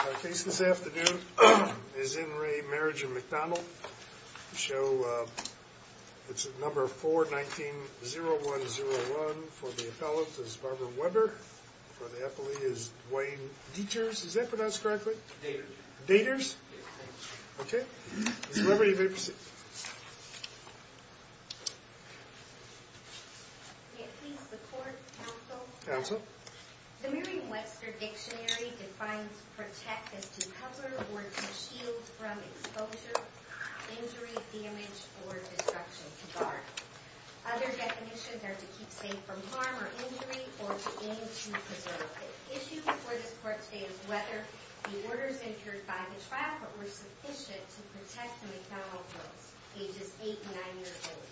Our case this afternoon is in re Marriage of McDonald. The show, it's at number 419-0101. For the appellant is Barbara Weber. For the appellee is Dwayne Dieters. Is that pronounced correctly? Dieters. Dieters? Okay. Ms. Weber, you may proceed. May I please report, counsel? Counsel. The Merriam-Webster Dictionary defines protect as to cover or to shield from exposure, injury, damage, or destruction. To guard. Other definitions are to keep safe from harm or injury or to aim to preserve. The issue before this court today is whether the orders incurred by the trial court were sufficient to protect the McDonald girls, ages 8 and 9 years old.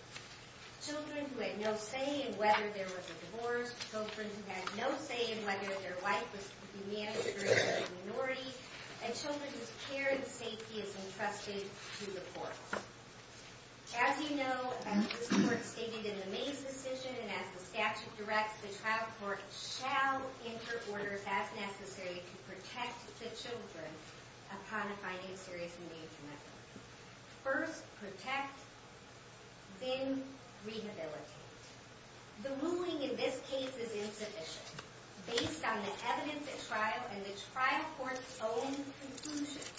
Children who had no say in whether there was a divorce. Children who had no say in whether their wife was to be managed by a minority. And children whose care and safety is entrusted to the courts. As you know, as this court stated in the May's decision and as the statute directs, the trial court shall enter orders as necessary to protect the children upon finding serious endangerment. First, protect. Then, rehabilitate. The ruling in this case is insufficient. Based on the evidence at trial and the trial court's own conclusions,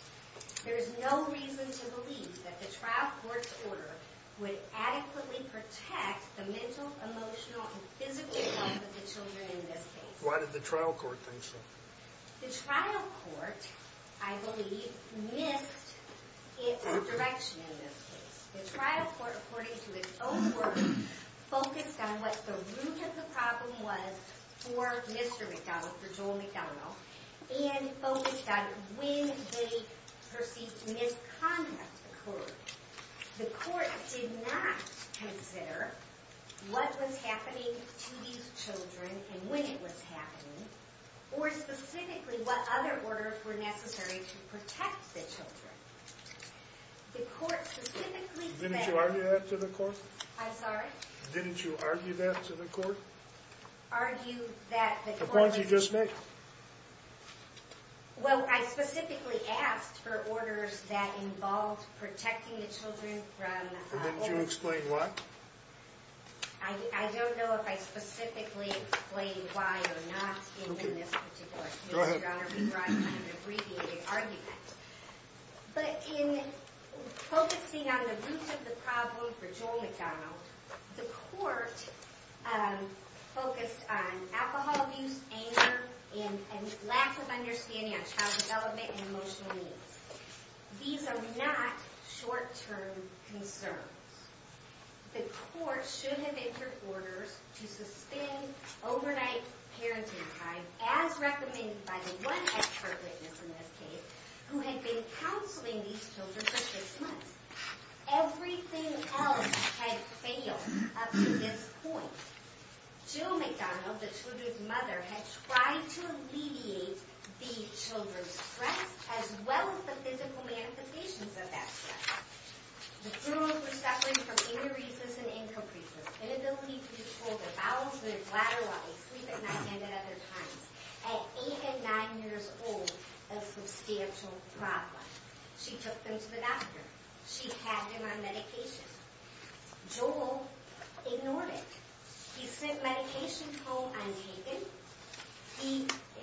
there is no reason to believe that the trial court's order would adequately protect the mental, emotional, and physical health of the children in this case. Why did the trial court think so? The trial court, I believe, missed its direction in this case. The trial court, according to its own work, focused on what the root of the problem was for Mr. McDonald, for Joel McDonald, and focused on when they perceived misconduct occurred. The court did not consider what was happening to these children and when it was happening, or specifically what other orders were necessary to protect the children. The court specifically said... Didn't you argue that to the court? I'm sorry? Didn't you argue that to the court? Argue that the court was... The point you just made. Well, I specifically asked for orders that involved protecting the children from... Didn't you explain why? I don't know if I specifically explained why or not in this particular case. Go ahead. Your Honor, we brought up an abbreviated argument. But in focusing on the root of the problem for Joel McDonald, the court focused on alcohol abuse, anger, and lack of understanding on child development and emotional needs. These are not short-term concerns. The court should have entered orders to suspend overnight parenting time, as recommended by the one expert witness in this case, who had been counseling these children for six months. Everything else had failed up to this point. Joel McDonald, the children's mother, had tried to alleviate the children's stress as well as the physical manifestations of that stress. The girls were suffering from aneurysms and incapricious, inability to control their bowels, their bladder levels, sleep at night, and at other times. At eight and nine years old, a substantial problem. She took them to the doctor. She had them on medication. Joel ignored it. He sent medication home untaken.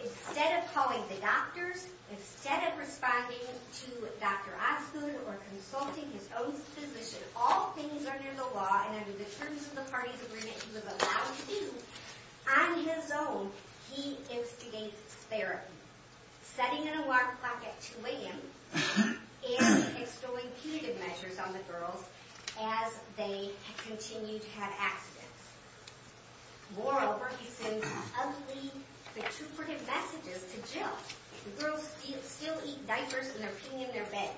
Instead of calling the doctors, instead of responding to Dr. Osgood or consulting his own physician, all things are near the law, and under the terms of the parties agreement he was allowed to, on his own, he instigates therapy. Setting an alarm clock at two a.m. and exploiting punitive measures on the girls as they continue to have accidents. Moreover, he sends ugly, intrusive messages to Jill. The girls still eat diapers and they're peeing in their bed.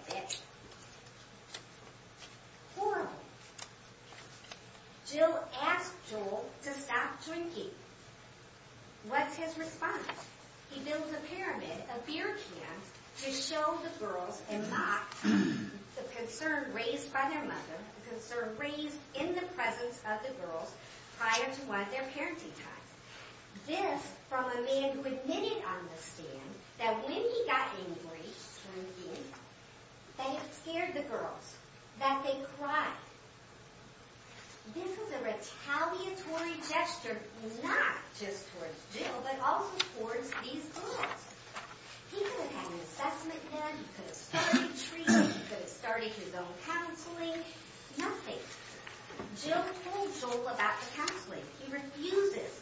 Horrible. Jill asks Joel to stop drinking. What's his response? He builds a pyramid, a beer can, to show the girls and mock the concern raised by their mother, the concern raised in the presence of the girls prior to one of their parenting times. This, from a man who admitted on the stand that when he got angry, they had scared the girls, that they cried. This is a retaliatory gesture, not just towards Jill, but also towards these girls. He could have had an assessment done. He could have started treatment. He could have started his own counseling. Nothing. Jill told Joel about the counseling. He refuses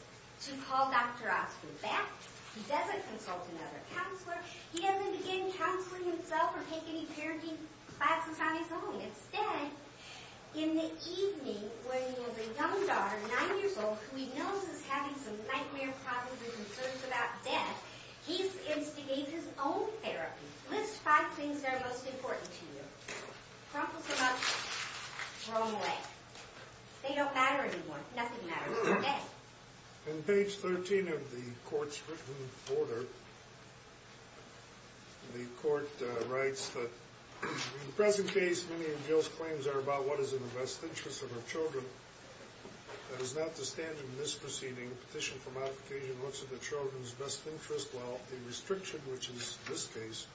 to call Dr. Osgood back. He doesn't consult another counselor. He doesn't begin counseling himself or take any parenting classes on his own. Instead, in the evening, when he has a young daughter, nine years old, who he knows is having some nightmare problems and concerns about death, he instigates his own therapy. List five things that are most important to you. Trump was about to throw them away. They don't matter anymore. Nothing matters today. On page 13 of the court's written order, the court writes that, in the present case, many of Jill's claims are about what is in the best interest of her children. That is not the standard in this proceeding. The petition for modification looks at the children's best interest, while the restriction, which is this case,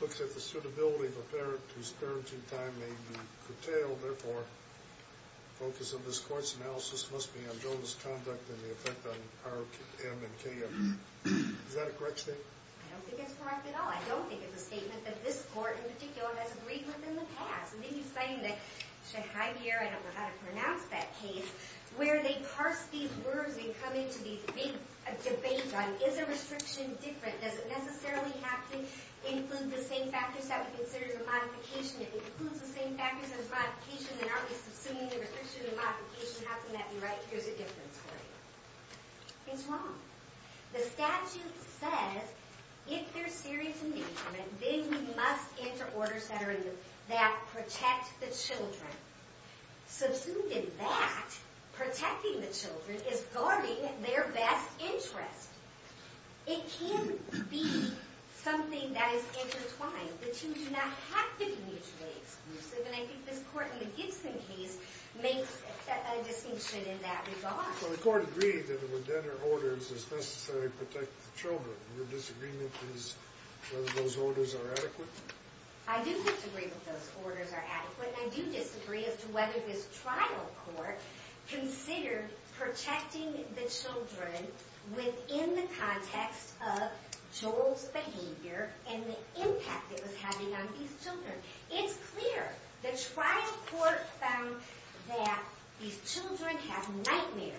looks at the suitability of a parent whose parenting time may be curtailed. Therefore, the focus of this court's analysis must be on Jill's conduct and the effect on R.M. and K.M. Is that a correct statement? I don't think it's correct at all. I don't think it's a statement that this court, in particular, has agreed with in the past. I think he's saying that, to Javier, I don't know how to pronounce that case, where they parse these words and come into these debates on, is a restriction different? Does it necessarily have to include the same factors that we consider to be modification? If it includes the same factors as modification, then aren't we subsuming the restriction of modification? How can that be right? Here's a difference for you. It's wrong. The statute says, if there's serious endangerment, then we must enter orders that protect the children. Substituting that, protecting the children, is guarding their best interest. It can be something that is intertwined, that you do not have to be mutually exclusive. And I think this court, in the Gibson case, makes a distinction in that regard. So the court agreed that it would enter orders as necessary to protect the children. Your disagreement is whether those orders are adequate? I do disagree that those orders are adequate, and I do disagree as to whether this trial court considered protecting the children within the context of Joel's behavior and the impact it was having on these children. It's clear. The trial court found that these children have nightmares.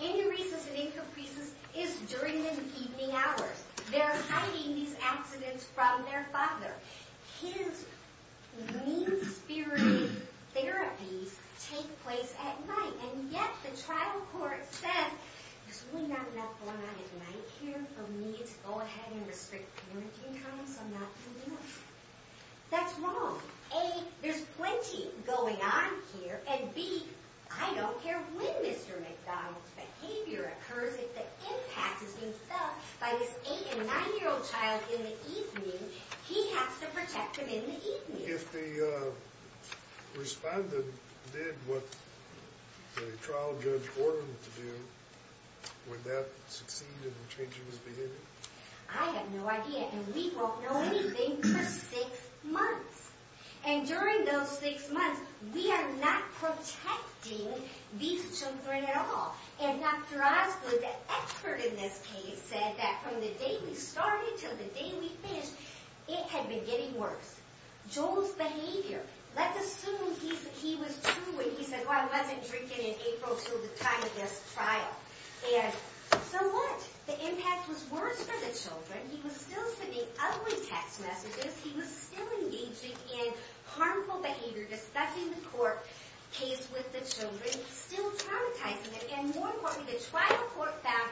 Any reason it increases is during the evening hours. They're hiding these accidents from their father. Kids' mean-spirited therapies take place at night, and yet the trial court says, there's really not enough going on at night here for me to go ahead and restrict parenting time, so I'm not doing it. That's wrong. A, there's plenty going on here, and B, I don't care when Mr. McDonald's behavior occurs, if the impact is being felt by this 8- and 9-year-old child in the evening, he has to protect them in the evening. If the respondent did what the trial judge ordered them to do, would that succeed in changing his behavior? I have no idea, and we won't know anything for 6 months. And during those 6 months, we are not protecting these children at all. And Dr. Osgood, the expert in this case, said that from the day we started till the day we finished, it had been getting worse. Joel's behavior, let's assume he was true when he said, well, I wasn't drinking in April till the time of this trial. And so what? The impact was worse for the children. He was still sending ugly text messages. He was still engaging in harmful behavior, discussing the court case with the children, still traumatizing them, and more importantly, the trial court found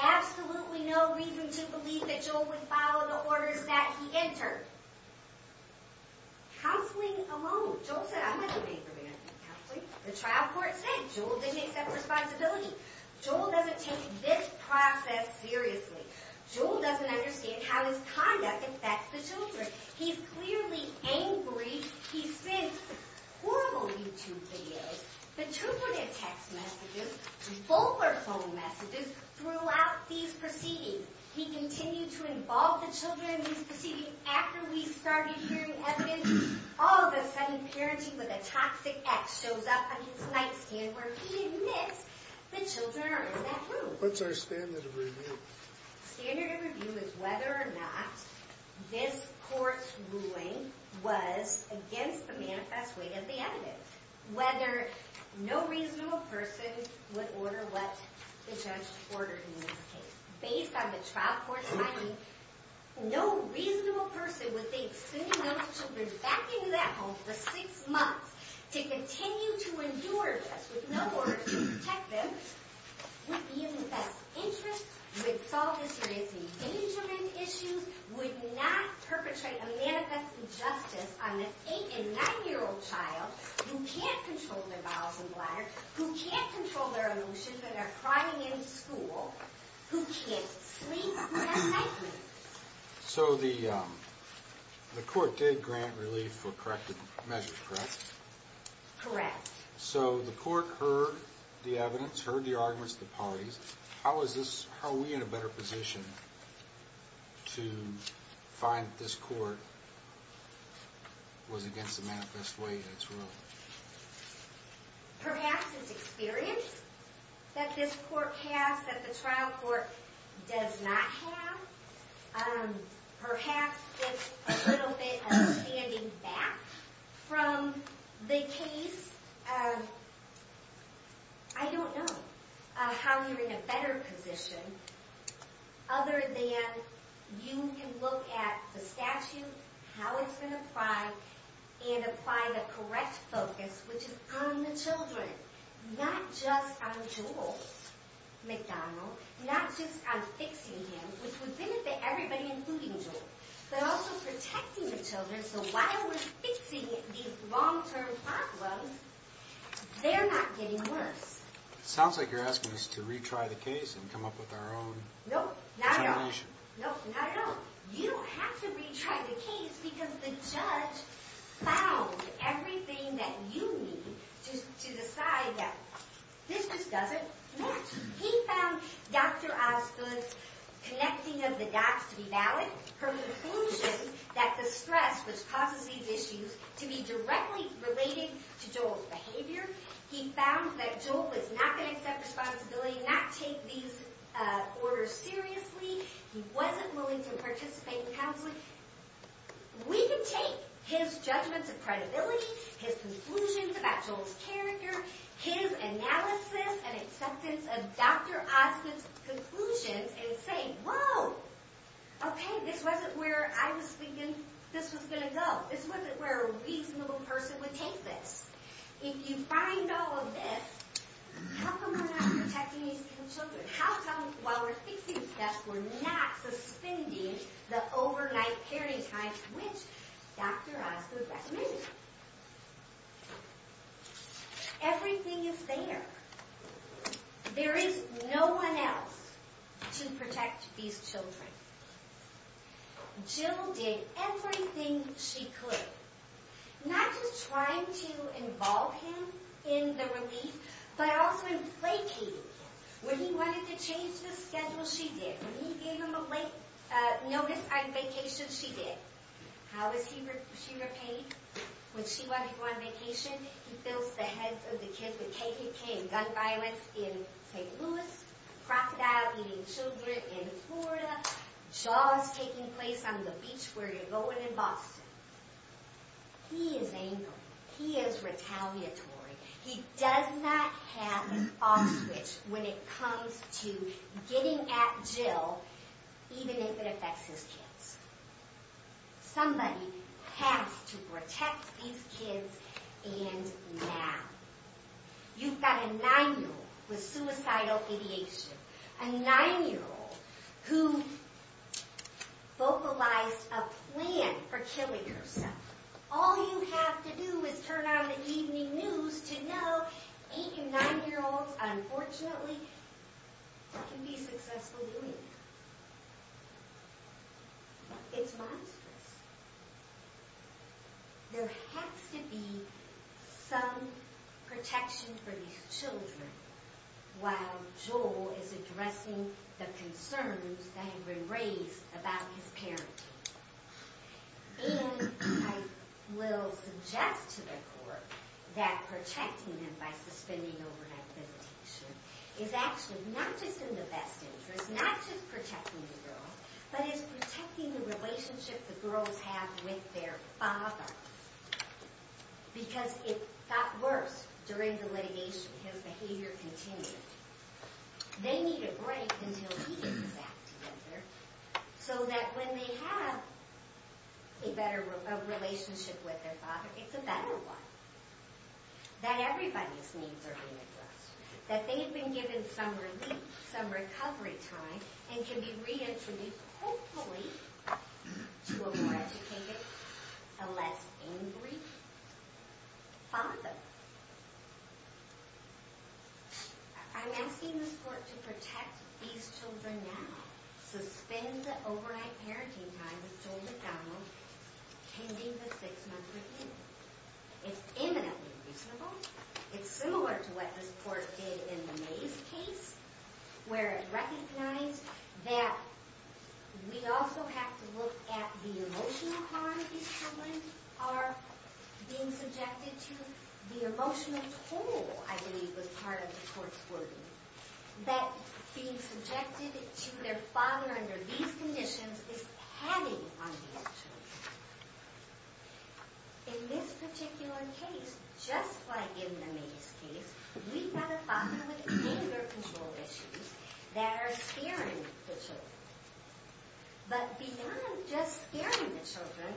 absolutely no reason to believe that Joel would follow the orders that he entered. Counseling alone, Joel said, I'm not going to be your man in counseling. The trial court said Joel didn't accept responsibility. Joel doesn't take this process seriously. Joel doesn't understand how his conduct affects the children. He's clearly angry. He sends horrible YouTube videos, petrificant text messages, vulgar phone messages throughout these proceedings. He continued to involve the children in these proceedings. After we started hearing evidence, all of a sudden, parenting with a toxic ex shows up on his nightstand where he admits the children are in that room. What's our standard of review? Standard of review is whether or not this court's ruling was against the manifest way of the evidence. Whether no reasonable person would order what the judge ordered in this case. Based on the trial court finding, no reasonable person would think sending those children back into that home for six months to continue to endure this with no order to protect them would be of the best interest, would solve the serious endangerment issues, would not perpetrate a manifest injustice on this eight and nine year old child who can't control their bowels and bladder, who can't control their emotions when they're crying in school, who can't sleep, who has nightmares. So the court did grant relief for corrected measures, correct? Correct. So the court heard the evidence, heard the arguments of the parties. How is this, how are we in a better position to find that this court was against the manifest way in its ruling? Perhaps it's experience that this court has that the trial court does not have. Perhaps it's a little bit of standing back from the case. I don't know how you're in a better position other than you can look at the statute, how it's been applied, and apply the correct focus which is on the children. Not just on Joel McDonald, not just on fixing him, which would benefit everybody including Joel, but also protecting the children so while we're fixing these long term problems, they're not getting worse. Sounds like you're asking us to retry the case and come up with our own determination. Nope, not at all. You don't have to retry the case because the judge found everything that you need to decide that this just doesn't match. He found Dr. Osgood's connecting of the dots to be valid, her conclusion that the stress which causes these issues to be directly related to Joel's behavior. He found that Joel was not going to accept responsibility, not take these orders seriously. He wasn't willing to participate in counseling. We can take his judgments of credibility, his conclusions about Joel's character, his analysis and acceptance of Dr. Osgood's conclusions and say, whoa, okay, this wasn't where I was thinking this was going to go. This wasn't where a reasonable person would take this. If you find all of this, how come we're not protecting these children? How come while we're fixing this, we're not suspending the overnight parenting time which Dr. Osgood recommended? Everything is there. There is no one else to protect these children. Jill did everything she could, not just trying to involve him in the relief, but also inflating. When he wanted to change the schedule, she did. When he gave him a late notice on vacation, she did. How was she repaid? When she wanted to go on vacation, he fills the heads of the kids with KKK and gun violence in St. Louis. Crocodile eating children in Florida. Jaws taking place on the beach where you're going in Boston. He is angry. He is retaliatory. He does not have off switch when it comes to getting at Jill, even if it affects his kids. Somebody has to protect these kids and now. You've got a 9-year-old with suicidal ideation. A 9-year-old who vocalized a plan for killing herself. All you have to do is turn on the evening news to know 8 and 9-year-olds, unfortunately, can be successful doing that. It's monstrous. There has to be some protection for these children while Joel is addressing the concerns that have been raised about his parenting. I will suggest to the court that protecting them by suspending overnight visitation is actually not just in the best interest. Not just protecting the girl, but it's protecting the relationship the girls have with their father. Because it got worse during the litigation. His behavior continued. They need a break until he gets back together so that when they have a better relationship with their father, it's a better one. That everybody's needs are being addressed. That they've been given some relief, some recovery time, and can be reintroduced, hopefully, to a more educated, a less angry father. I'm asking this court to protect these children now. Suspend the overnight parenting time with Joel McDonald, pending the 6-month review. It's eminently reasonable. It's similar to what this court did in the Mays case, where it recognized that we also have to look at the emotional harm these children are being subjected to. The emotional toll, I believe, was part of the court's wording. That being subjected to their father under these conditions is padding on these children. In this particular case, just like in the Mays case, we've got a father with anger control issues that are scaring the children. But beyond just scaring the children,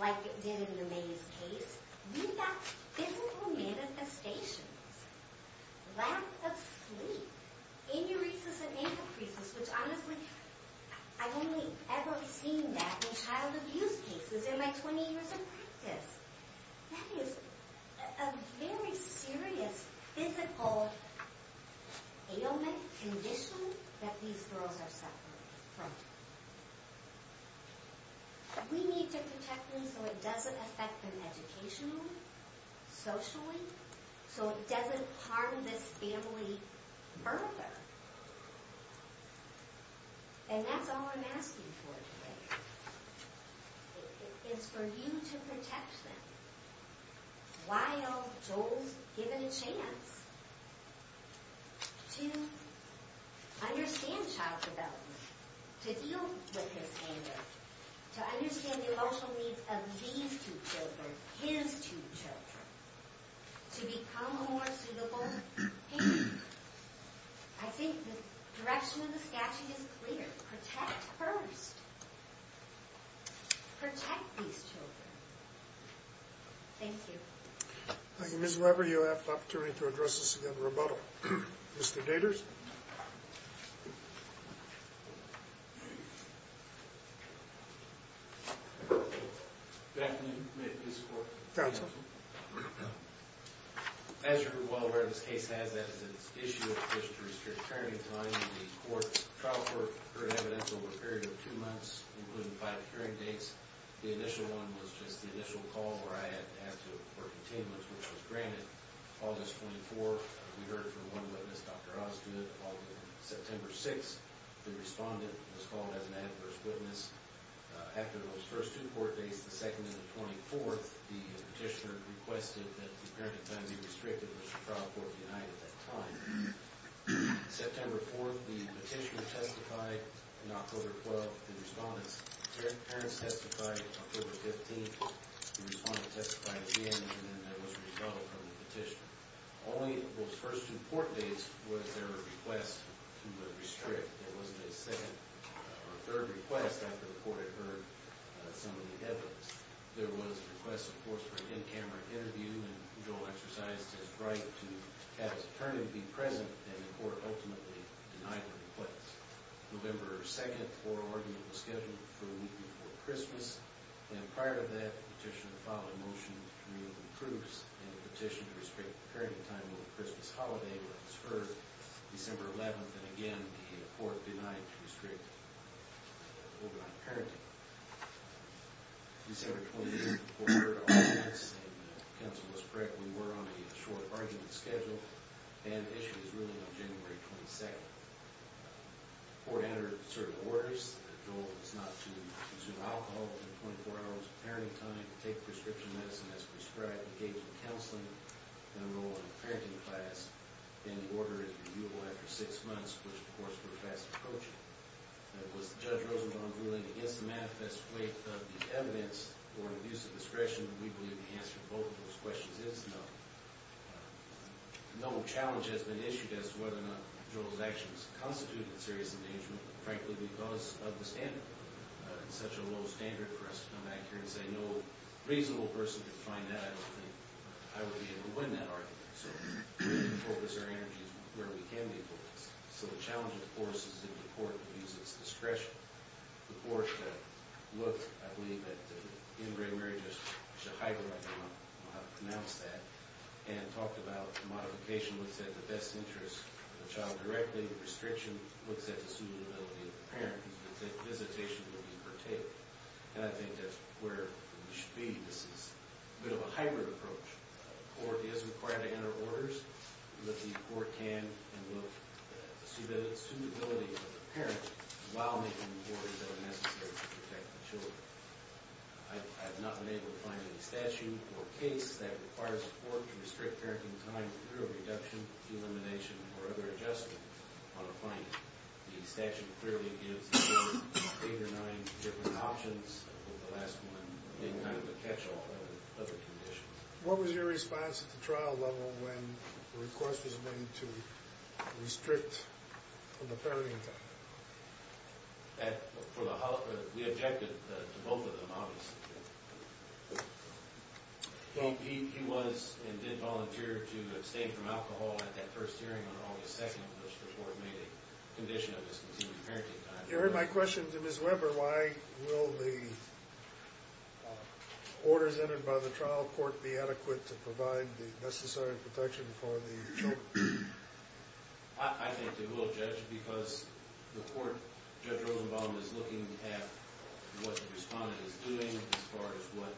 like it did in the Mays case, we've got physical manifestations. Lack of sleep. Aneurysis and anapheresis, which honestly, I've only ever seen that in child abuse cases in my 20 years of practice. That is a very serious physical ailment condition that these girls are suffering from. We need to protect them so it doesn't affect them educationally, socially, so it doesn't harm this family further. And that's all I'm asking for today. It's for you to protect them while Joel's given a chance to understand child development, to deal with his anger, to understand the emotional needs of these two children, his two children, to become a more suitable parent. I think the direction of the statute is clear. Protect first. Protect these children. Thank you. Thank you, Ms. Weber. You'll have the opportunity to address this again rebuttal. Mr. Daters. Good afternoon. May it please the Court. Counsel. As you're well aware, this case has that as its issue, a petition to restrict hearing time. The trial court heard evidence over a period of two months, including five hearing dates. The initial one was just the initial call where I had to report containments, which was granted August 24th. We heard from one witness, Dr. Osgood, on September 6th. The respondent was called as an adverse witness. After those first two court dates, the second and the 24th, the petitioner requested that the parenting time be restricted, which the trial court denied at that time. September 4th, the petitioner testified. In October 12th, the respondent's parents testified. October 15th, the respondent testified again, and then there was a rebuttal from the petitioner. Only those first two court dates was there a request to restrict. There wasn't a second or third request after the court had heard some of the evidence. There was a request, of course, for an in-camera interview, and Joel exercised his right to have his attorney be present, and the court ultimately denied the request. November 2nd, oral argument was scheduled for the week before Christmas, and prior to that, the petitioner filed a motion to remove the proofs and petition to restrict the parenting time until the Christmas holiday was deferred. December 11th, and again, the court denied to restrict parental parenting. December 28th, the court heard our arguments, and counsel was correct. We were on a short argument schedule, and the issue is ruling on January 22nd. The court entered certain orders. Joel was not to consume alcohol within 24 hours of parenting time, take prescription medicine as prescribed, engage in counseling, and enroll in a parenting class. Any order is reviewable after six months, which, of course, we're fast approaching. Was Judge Rosenbaum's ruling against the manifest weight of the evidence or abuse of discretion? We believe the answer to both of those questions is no. No challenge has been issued as to whether or not Joel's actions constituted serious endangerment, frankly, because of the standard. It's such a low standard for us to come back here and say, no reasonable person can find out. I don't think I would be able to win that argument. So, focus our energy where we can be focused. So, the challenge, of course, is that the court abuses discretion. The court looked, I believe, at the Ingram-Rogers, I should hyperlink, I don't know how to pronounce that, and talked about the modification looks at the best interest of the child directly, restriction looks at the suitability of the parent. The visitation will be partaked. And I think that's where we should be. This is a bit of a hybrid approach. A court is required to enter orders, but the court can and will see the suitability of the parent while making orders that are necessary to protect the children. I have not been able to find any statute or case that requires the court to restrict parenting time through a reduction, elimination, or other adjustment on a finding. The statute clearly gives eight or nine different options, but the last one didn't kind of catch all the other conditions. What was your response at the trial level when the request was made to restrict the parenting time? We objected to both of them, obviously. He was and did volunteer to abstain from alcohol at that first hearing on August 2nd, which the court made a condition of discontinued parenting time. You heard my question to Ms. Weber, why will the orders entered by the trial court be adequate to provide the necessary protection for the children? I think they will, Judge, because the court, Judge Rosenbaum, is looking at what the respondent is doing as far as what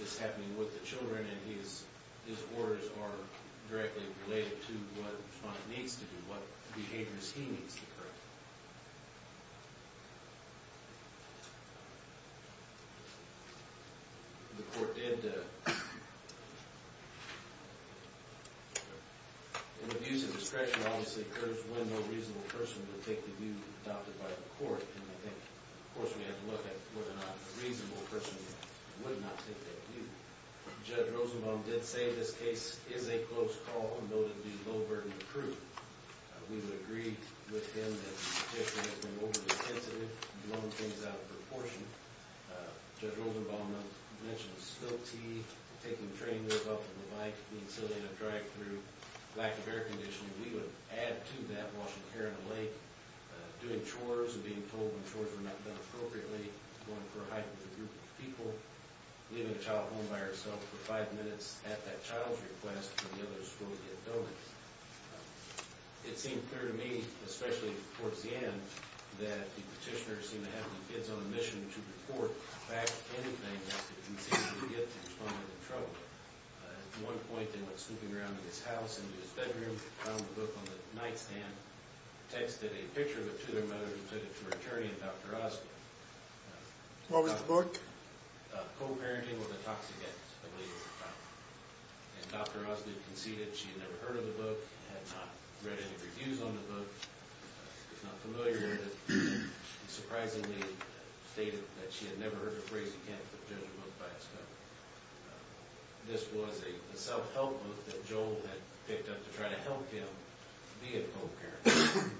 is happening with the children, and his orders are directly related to what the respondent needs to do, what behaviors he needs to correct. The court did, in abuse of discretion, obviously, urge when no reasonable person would take the view adopted by the court, and I think, of course, we had to look at whether or not a reasonable person would not take that view. Judge Rosenbaum did say this case is a close call, and though it would be low-burdened proof, we would agree with him that the petitioner has been overly sensitive, and blown things out of proportion. Judge Rosenbaum mentioned the spill tea, taking the train lift off of the bike, being silly in a drive-thru, lack of air conditioning. We would add to that washing hair in the lake, doing chores and being told when chores were not done appropriately, going for a hike with a group of people, leaving a child home by herself for five minutes at that child's request, for the other school to get going. It seemed clear to me, especially towards the end, that the petitioner seemed to have the kids on a mission to report back anything that he seemed to get the respondent in trouble with. At one point, they went snooping around in his house, into his bedroom, found the book on the nightstand, texted a picture of it to their mother, and took it to her attorney and Dr. Osgood. What was the book? Co-parenting with a toxic ex, I believe it was called. And Dr. Osgood conceded she had never heard of the book, had not read any reviews on the book, was not familiar with it, and surprisingly stated that she had never heard a phrase, you can't put a judge's book by its cover. This was a self-help book that Joel had picked up to try to help him be a co-parent.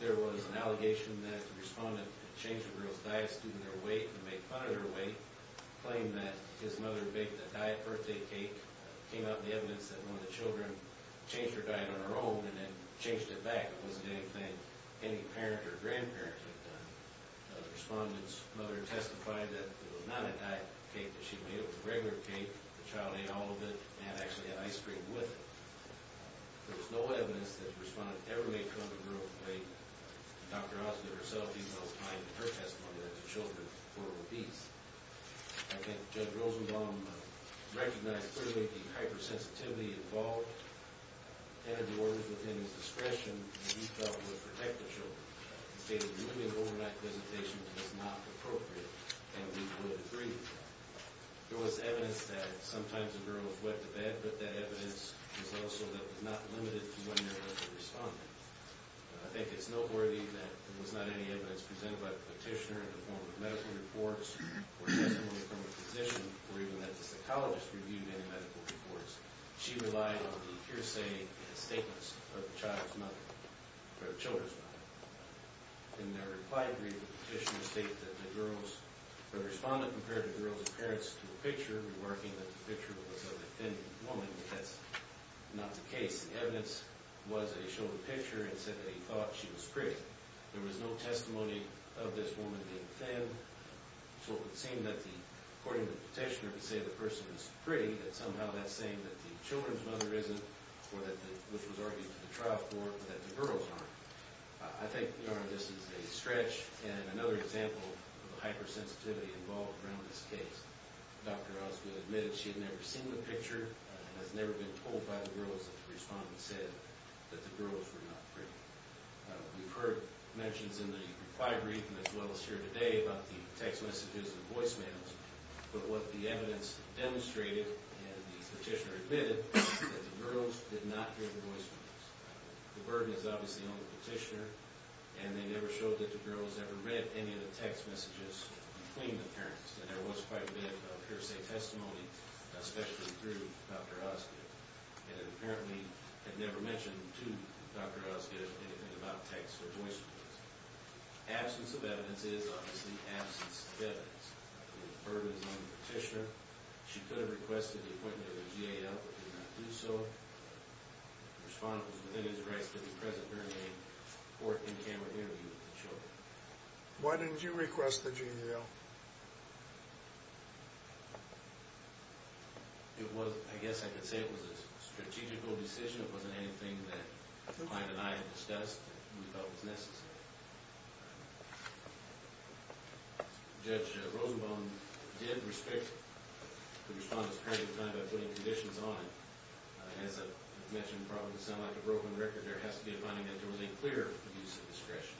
There was an allegation that the respondent had changed the girl's diet, asked her to do her weight and make fun of her weight, claimed that his mother baked a diet birthday cake, came out with the evidence that one of the children changed her diet on her own and then changed it back. It wasn't anything any parent or grandparent had done. The respondent's mother testified that it was not a diet cake that she made, it was a regular cake, the child ate all of it, and had actually had ice cream with it. There was no evidence that the respondent ever made fun of the girl's weight. Dr. Osgood herself even outlined in her testimony that the children were obese. I think Judge Rosenblum recognized clearly the hypersensitivity involved, entered the orders within his discretion, and he felt would protect the children. He stated the women overnight visitation was not appropriate, and we would agree with that. There was evidence that sometimes the girl was wet to bed, but that evidence was also that it was not limited to women or the respondent. I think it's noteworthy that there was not any evidence presented by the petitioner in the form of medical reports or testimony from a physician or even that the psychologist reviewed any medical reports. She relied on the hearsay and statements of the child's mother or the children's mother. In their reply, the petitioner stated that the respondent compared the girl's appearance to a picture, remarking that the picture was of a thin woman. That's not the case. The evidence was that he showed the picture and said that he thought she was pretty. There was no testimony of this woman being thin, so it would seem that according to the petitioner to say the person was pretty, that somehow that's saying that the children's mother isn't or that which was argued to the trial court that the girls aren't. I think, Your Honor, this is a stretch and another example of the hypersensitivity involved around this case. Dr. Osgood admitted she had never seen the picture and has never been told by the girls that the respondent said that the girls were not pretty. We've heard mentions in the reply brief as well as here today about the text messages and voicemails, but what the evidence demonstrated and the petitioner admitted is that the girls did not hear the voicemails. The burden is obviously on the petitioner, and they never showed that the girls ever read any of the text messages between the parents. There was quite a bit of hearsay testimony, especially through Dr. Osgood, and apparently had never mentioned to Dr. Osgood anything about texts or voicemails. Absence of evidence is obviously absence of evidence. The burden is on the petitioner. She could have requested the appointment of a GAL, but did not do so. The respondent was within his rights to be present during a court in-camera interview with the children. Why didn't you request the GAL? It was, I guess I could say it was a strategical decision. It wasn't anything that client and I had discussed and we felt was necessary. Judge Rosenbaum did respect the respondent's credit time by putting conditions on it. As I mentioned, probably to sound like a broken record, there has to be a finding that there was a clear abuse of discretion.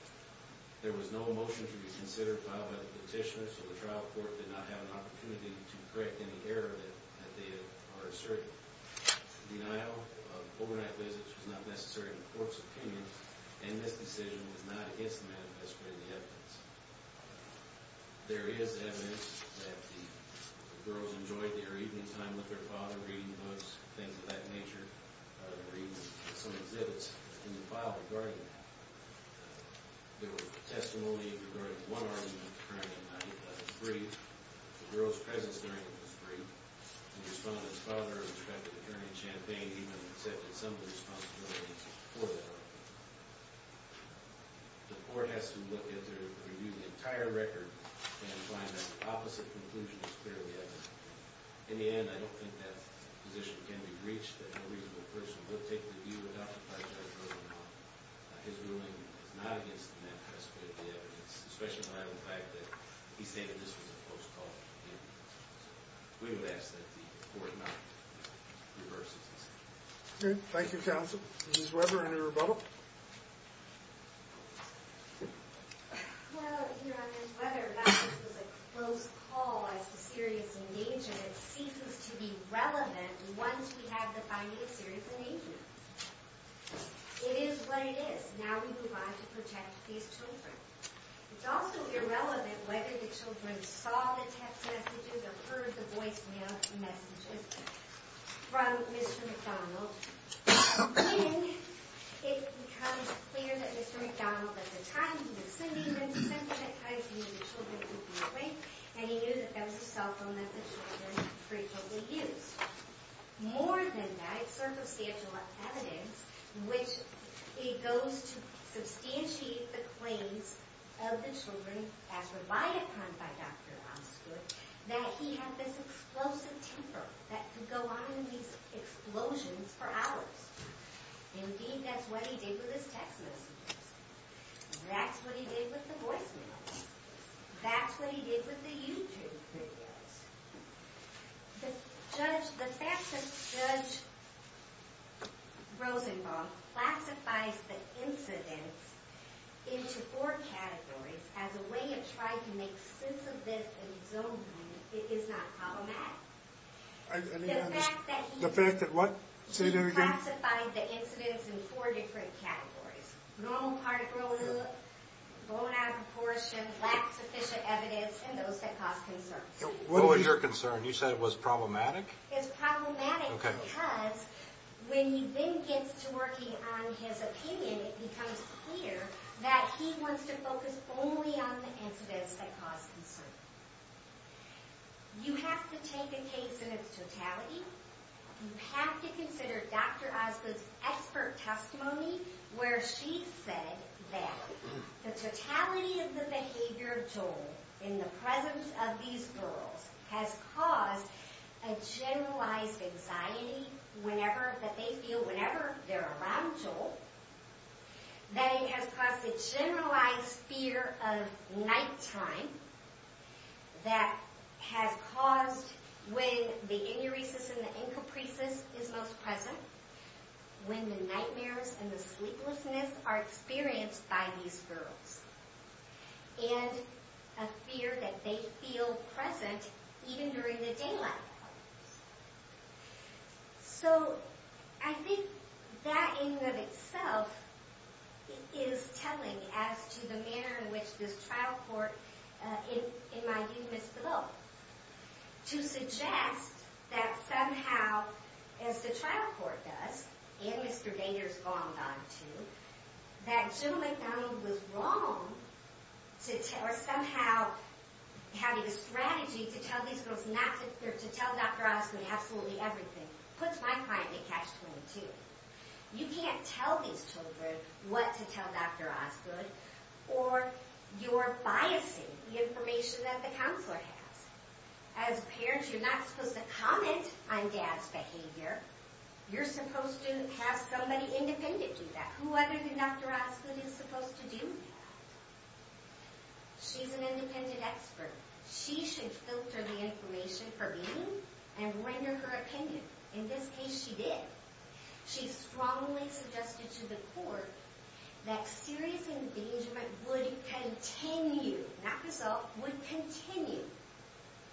There was no motion to be considered filed by the petitioner, so the trial court did not have an opportunity to correct any error that they are asserting. Denial of overnight visits was not necessary in the court's opinion, and this decision was not against the manifesto and the evidence. There is evidence that the girls enjoyed their evening time with their father, reading books, things of that nature, reading some exhibits in the file regarding them. There was testimony regarding one argument occurring in 1993. The girl's presence during it was brief. The respondent's father, Inspector Attorney Champagne, even accepted some of the responsibilities for that argument. The court has to look at their review of the entire record and find that the opposite conclusion is clearly evident. In the end, I don't think that position can be reached, that a reasonable person would take the view adopted by Judge Rosenbaum. His ruling is not against the manifesto and the evidence, especially when I would argue that he's saying that this was a close call. We would ask that the court not reverse this. Thank you, counsel. Ms. Weber, any rebuttal? Well, Your Honor, whether or not this was a close call as to serious engagement seems to be relevant once we have the finding of serious engagement. It is what it is. Now we move on to protect these children. It's also irrelevant whether the children saw the text messages or heard the voicemail messages from Mr. McDonald. When it becomes clear that Mr. McDonald, at the time he was sending them, sent them at times he knew the children would be awake and he knew that that was a cell phone that the children frequently used. More than that, it's circumstantial evidence which goes to substantiate the claims of the children as relied upon by Dr. Osgood, that he had this explosive temper that could go on in these explosions for hours. Indeed, that's what he did with his text messages. That's what he did with the voicemails. That's what he did with the YouTube videos. The fact that Judge Rosenbaum classifies the incidents into four categories as a way of trying to make sense of this and exonerate it is not problematic. The fact that he classified the incidents in four different categories. Normal particles, blown out of proportion, lack sufficient evidence, and those that cause concern. What was your concern? You said it was problematic? It's problematic because when he then gets to working on his opinion, it becomes clear that he wants to focus only on the incidents that cause concern. You have to take a case in its totality. You have to consider Dr. Osgood's expert testimony where she said that the totality of the behavior of Joel in the presence of these girls has caused a generalized anxiety that they feel whenever they're around Joel. That it has caused a generalized fear of nighttime that has caused, when the inuresis and the incapricis is most present, when the nightmares and the sleeplessness are experienced by these girls. And a fear that they feel present even during the daylight. So, I think that in and of itself is telling as to the manner in which this trial court, in my view, Ms. Belleau, to suggest that somehow, as the trial court does, and Mr. Danger's gone on to, that Jim McDonald was wrong to tell, or somehow having a strategy to tell these girls not to, or to tell Dr. Osgood absolutely everything, puts my client in catch-22. You can't tell these children what to tell Dr. Osgood, or you're biasing the information that the counselor has. As parents, you're not supposed to comment on dad's behavior. You're supposed to have somebody independent do that. Who other than Dr. Osgood is supposed to do that? She's an independent expert. She should filter the information for me and render her opinion. In this case, she did. She strongly suggested to the court that serious engagement would continue, not result, would continue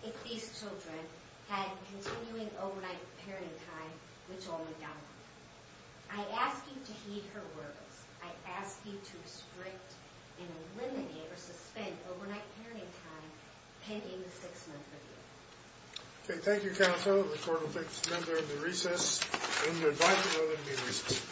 if these children had continuing overnight parenting time, which only got longer. I ask you to heed her words. I ask you to restrict and eliminate or suspend overnight parenting time pending the six-month review. Okay, thank you, counsel. The court will take this matter into recess. And we invite you all to remain in recess.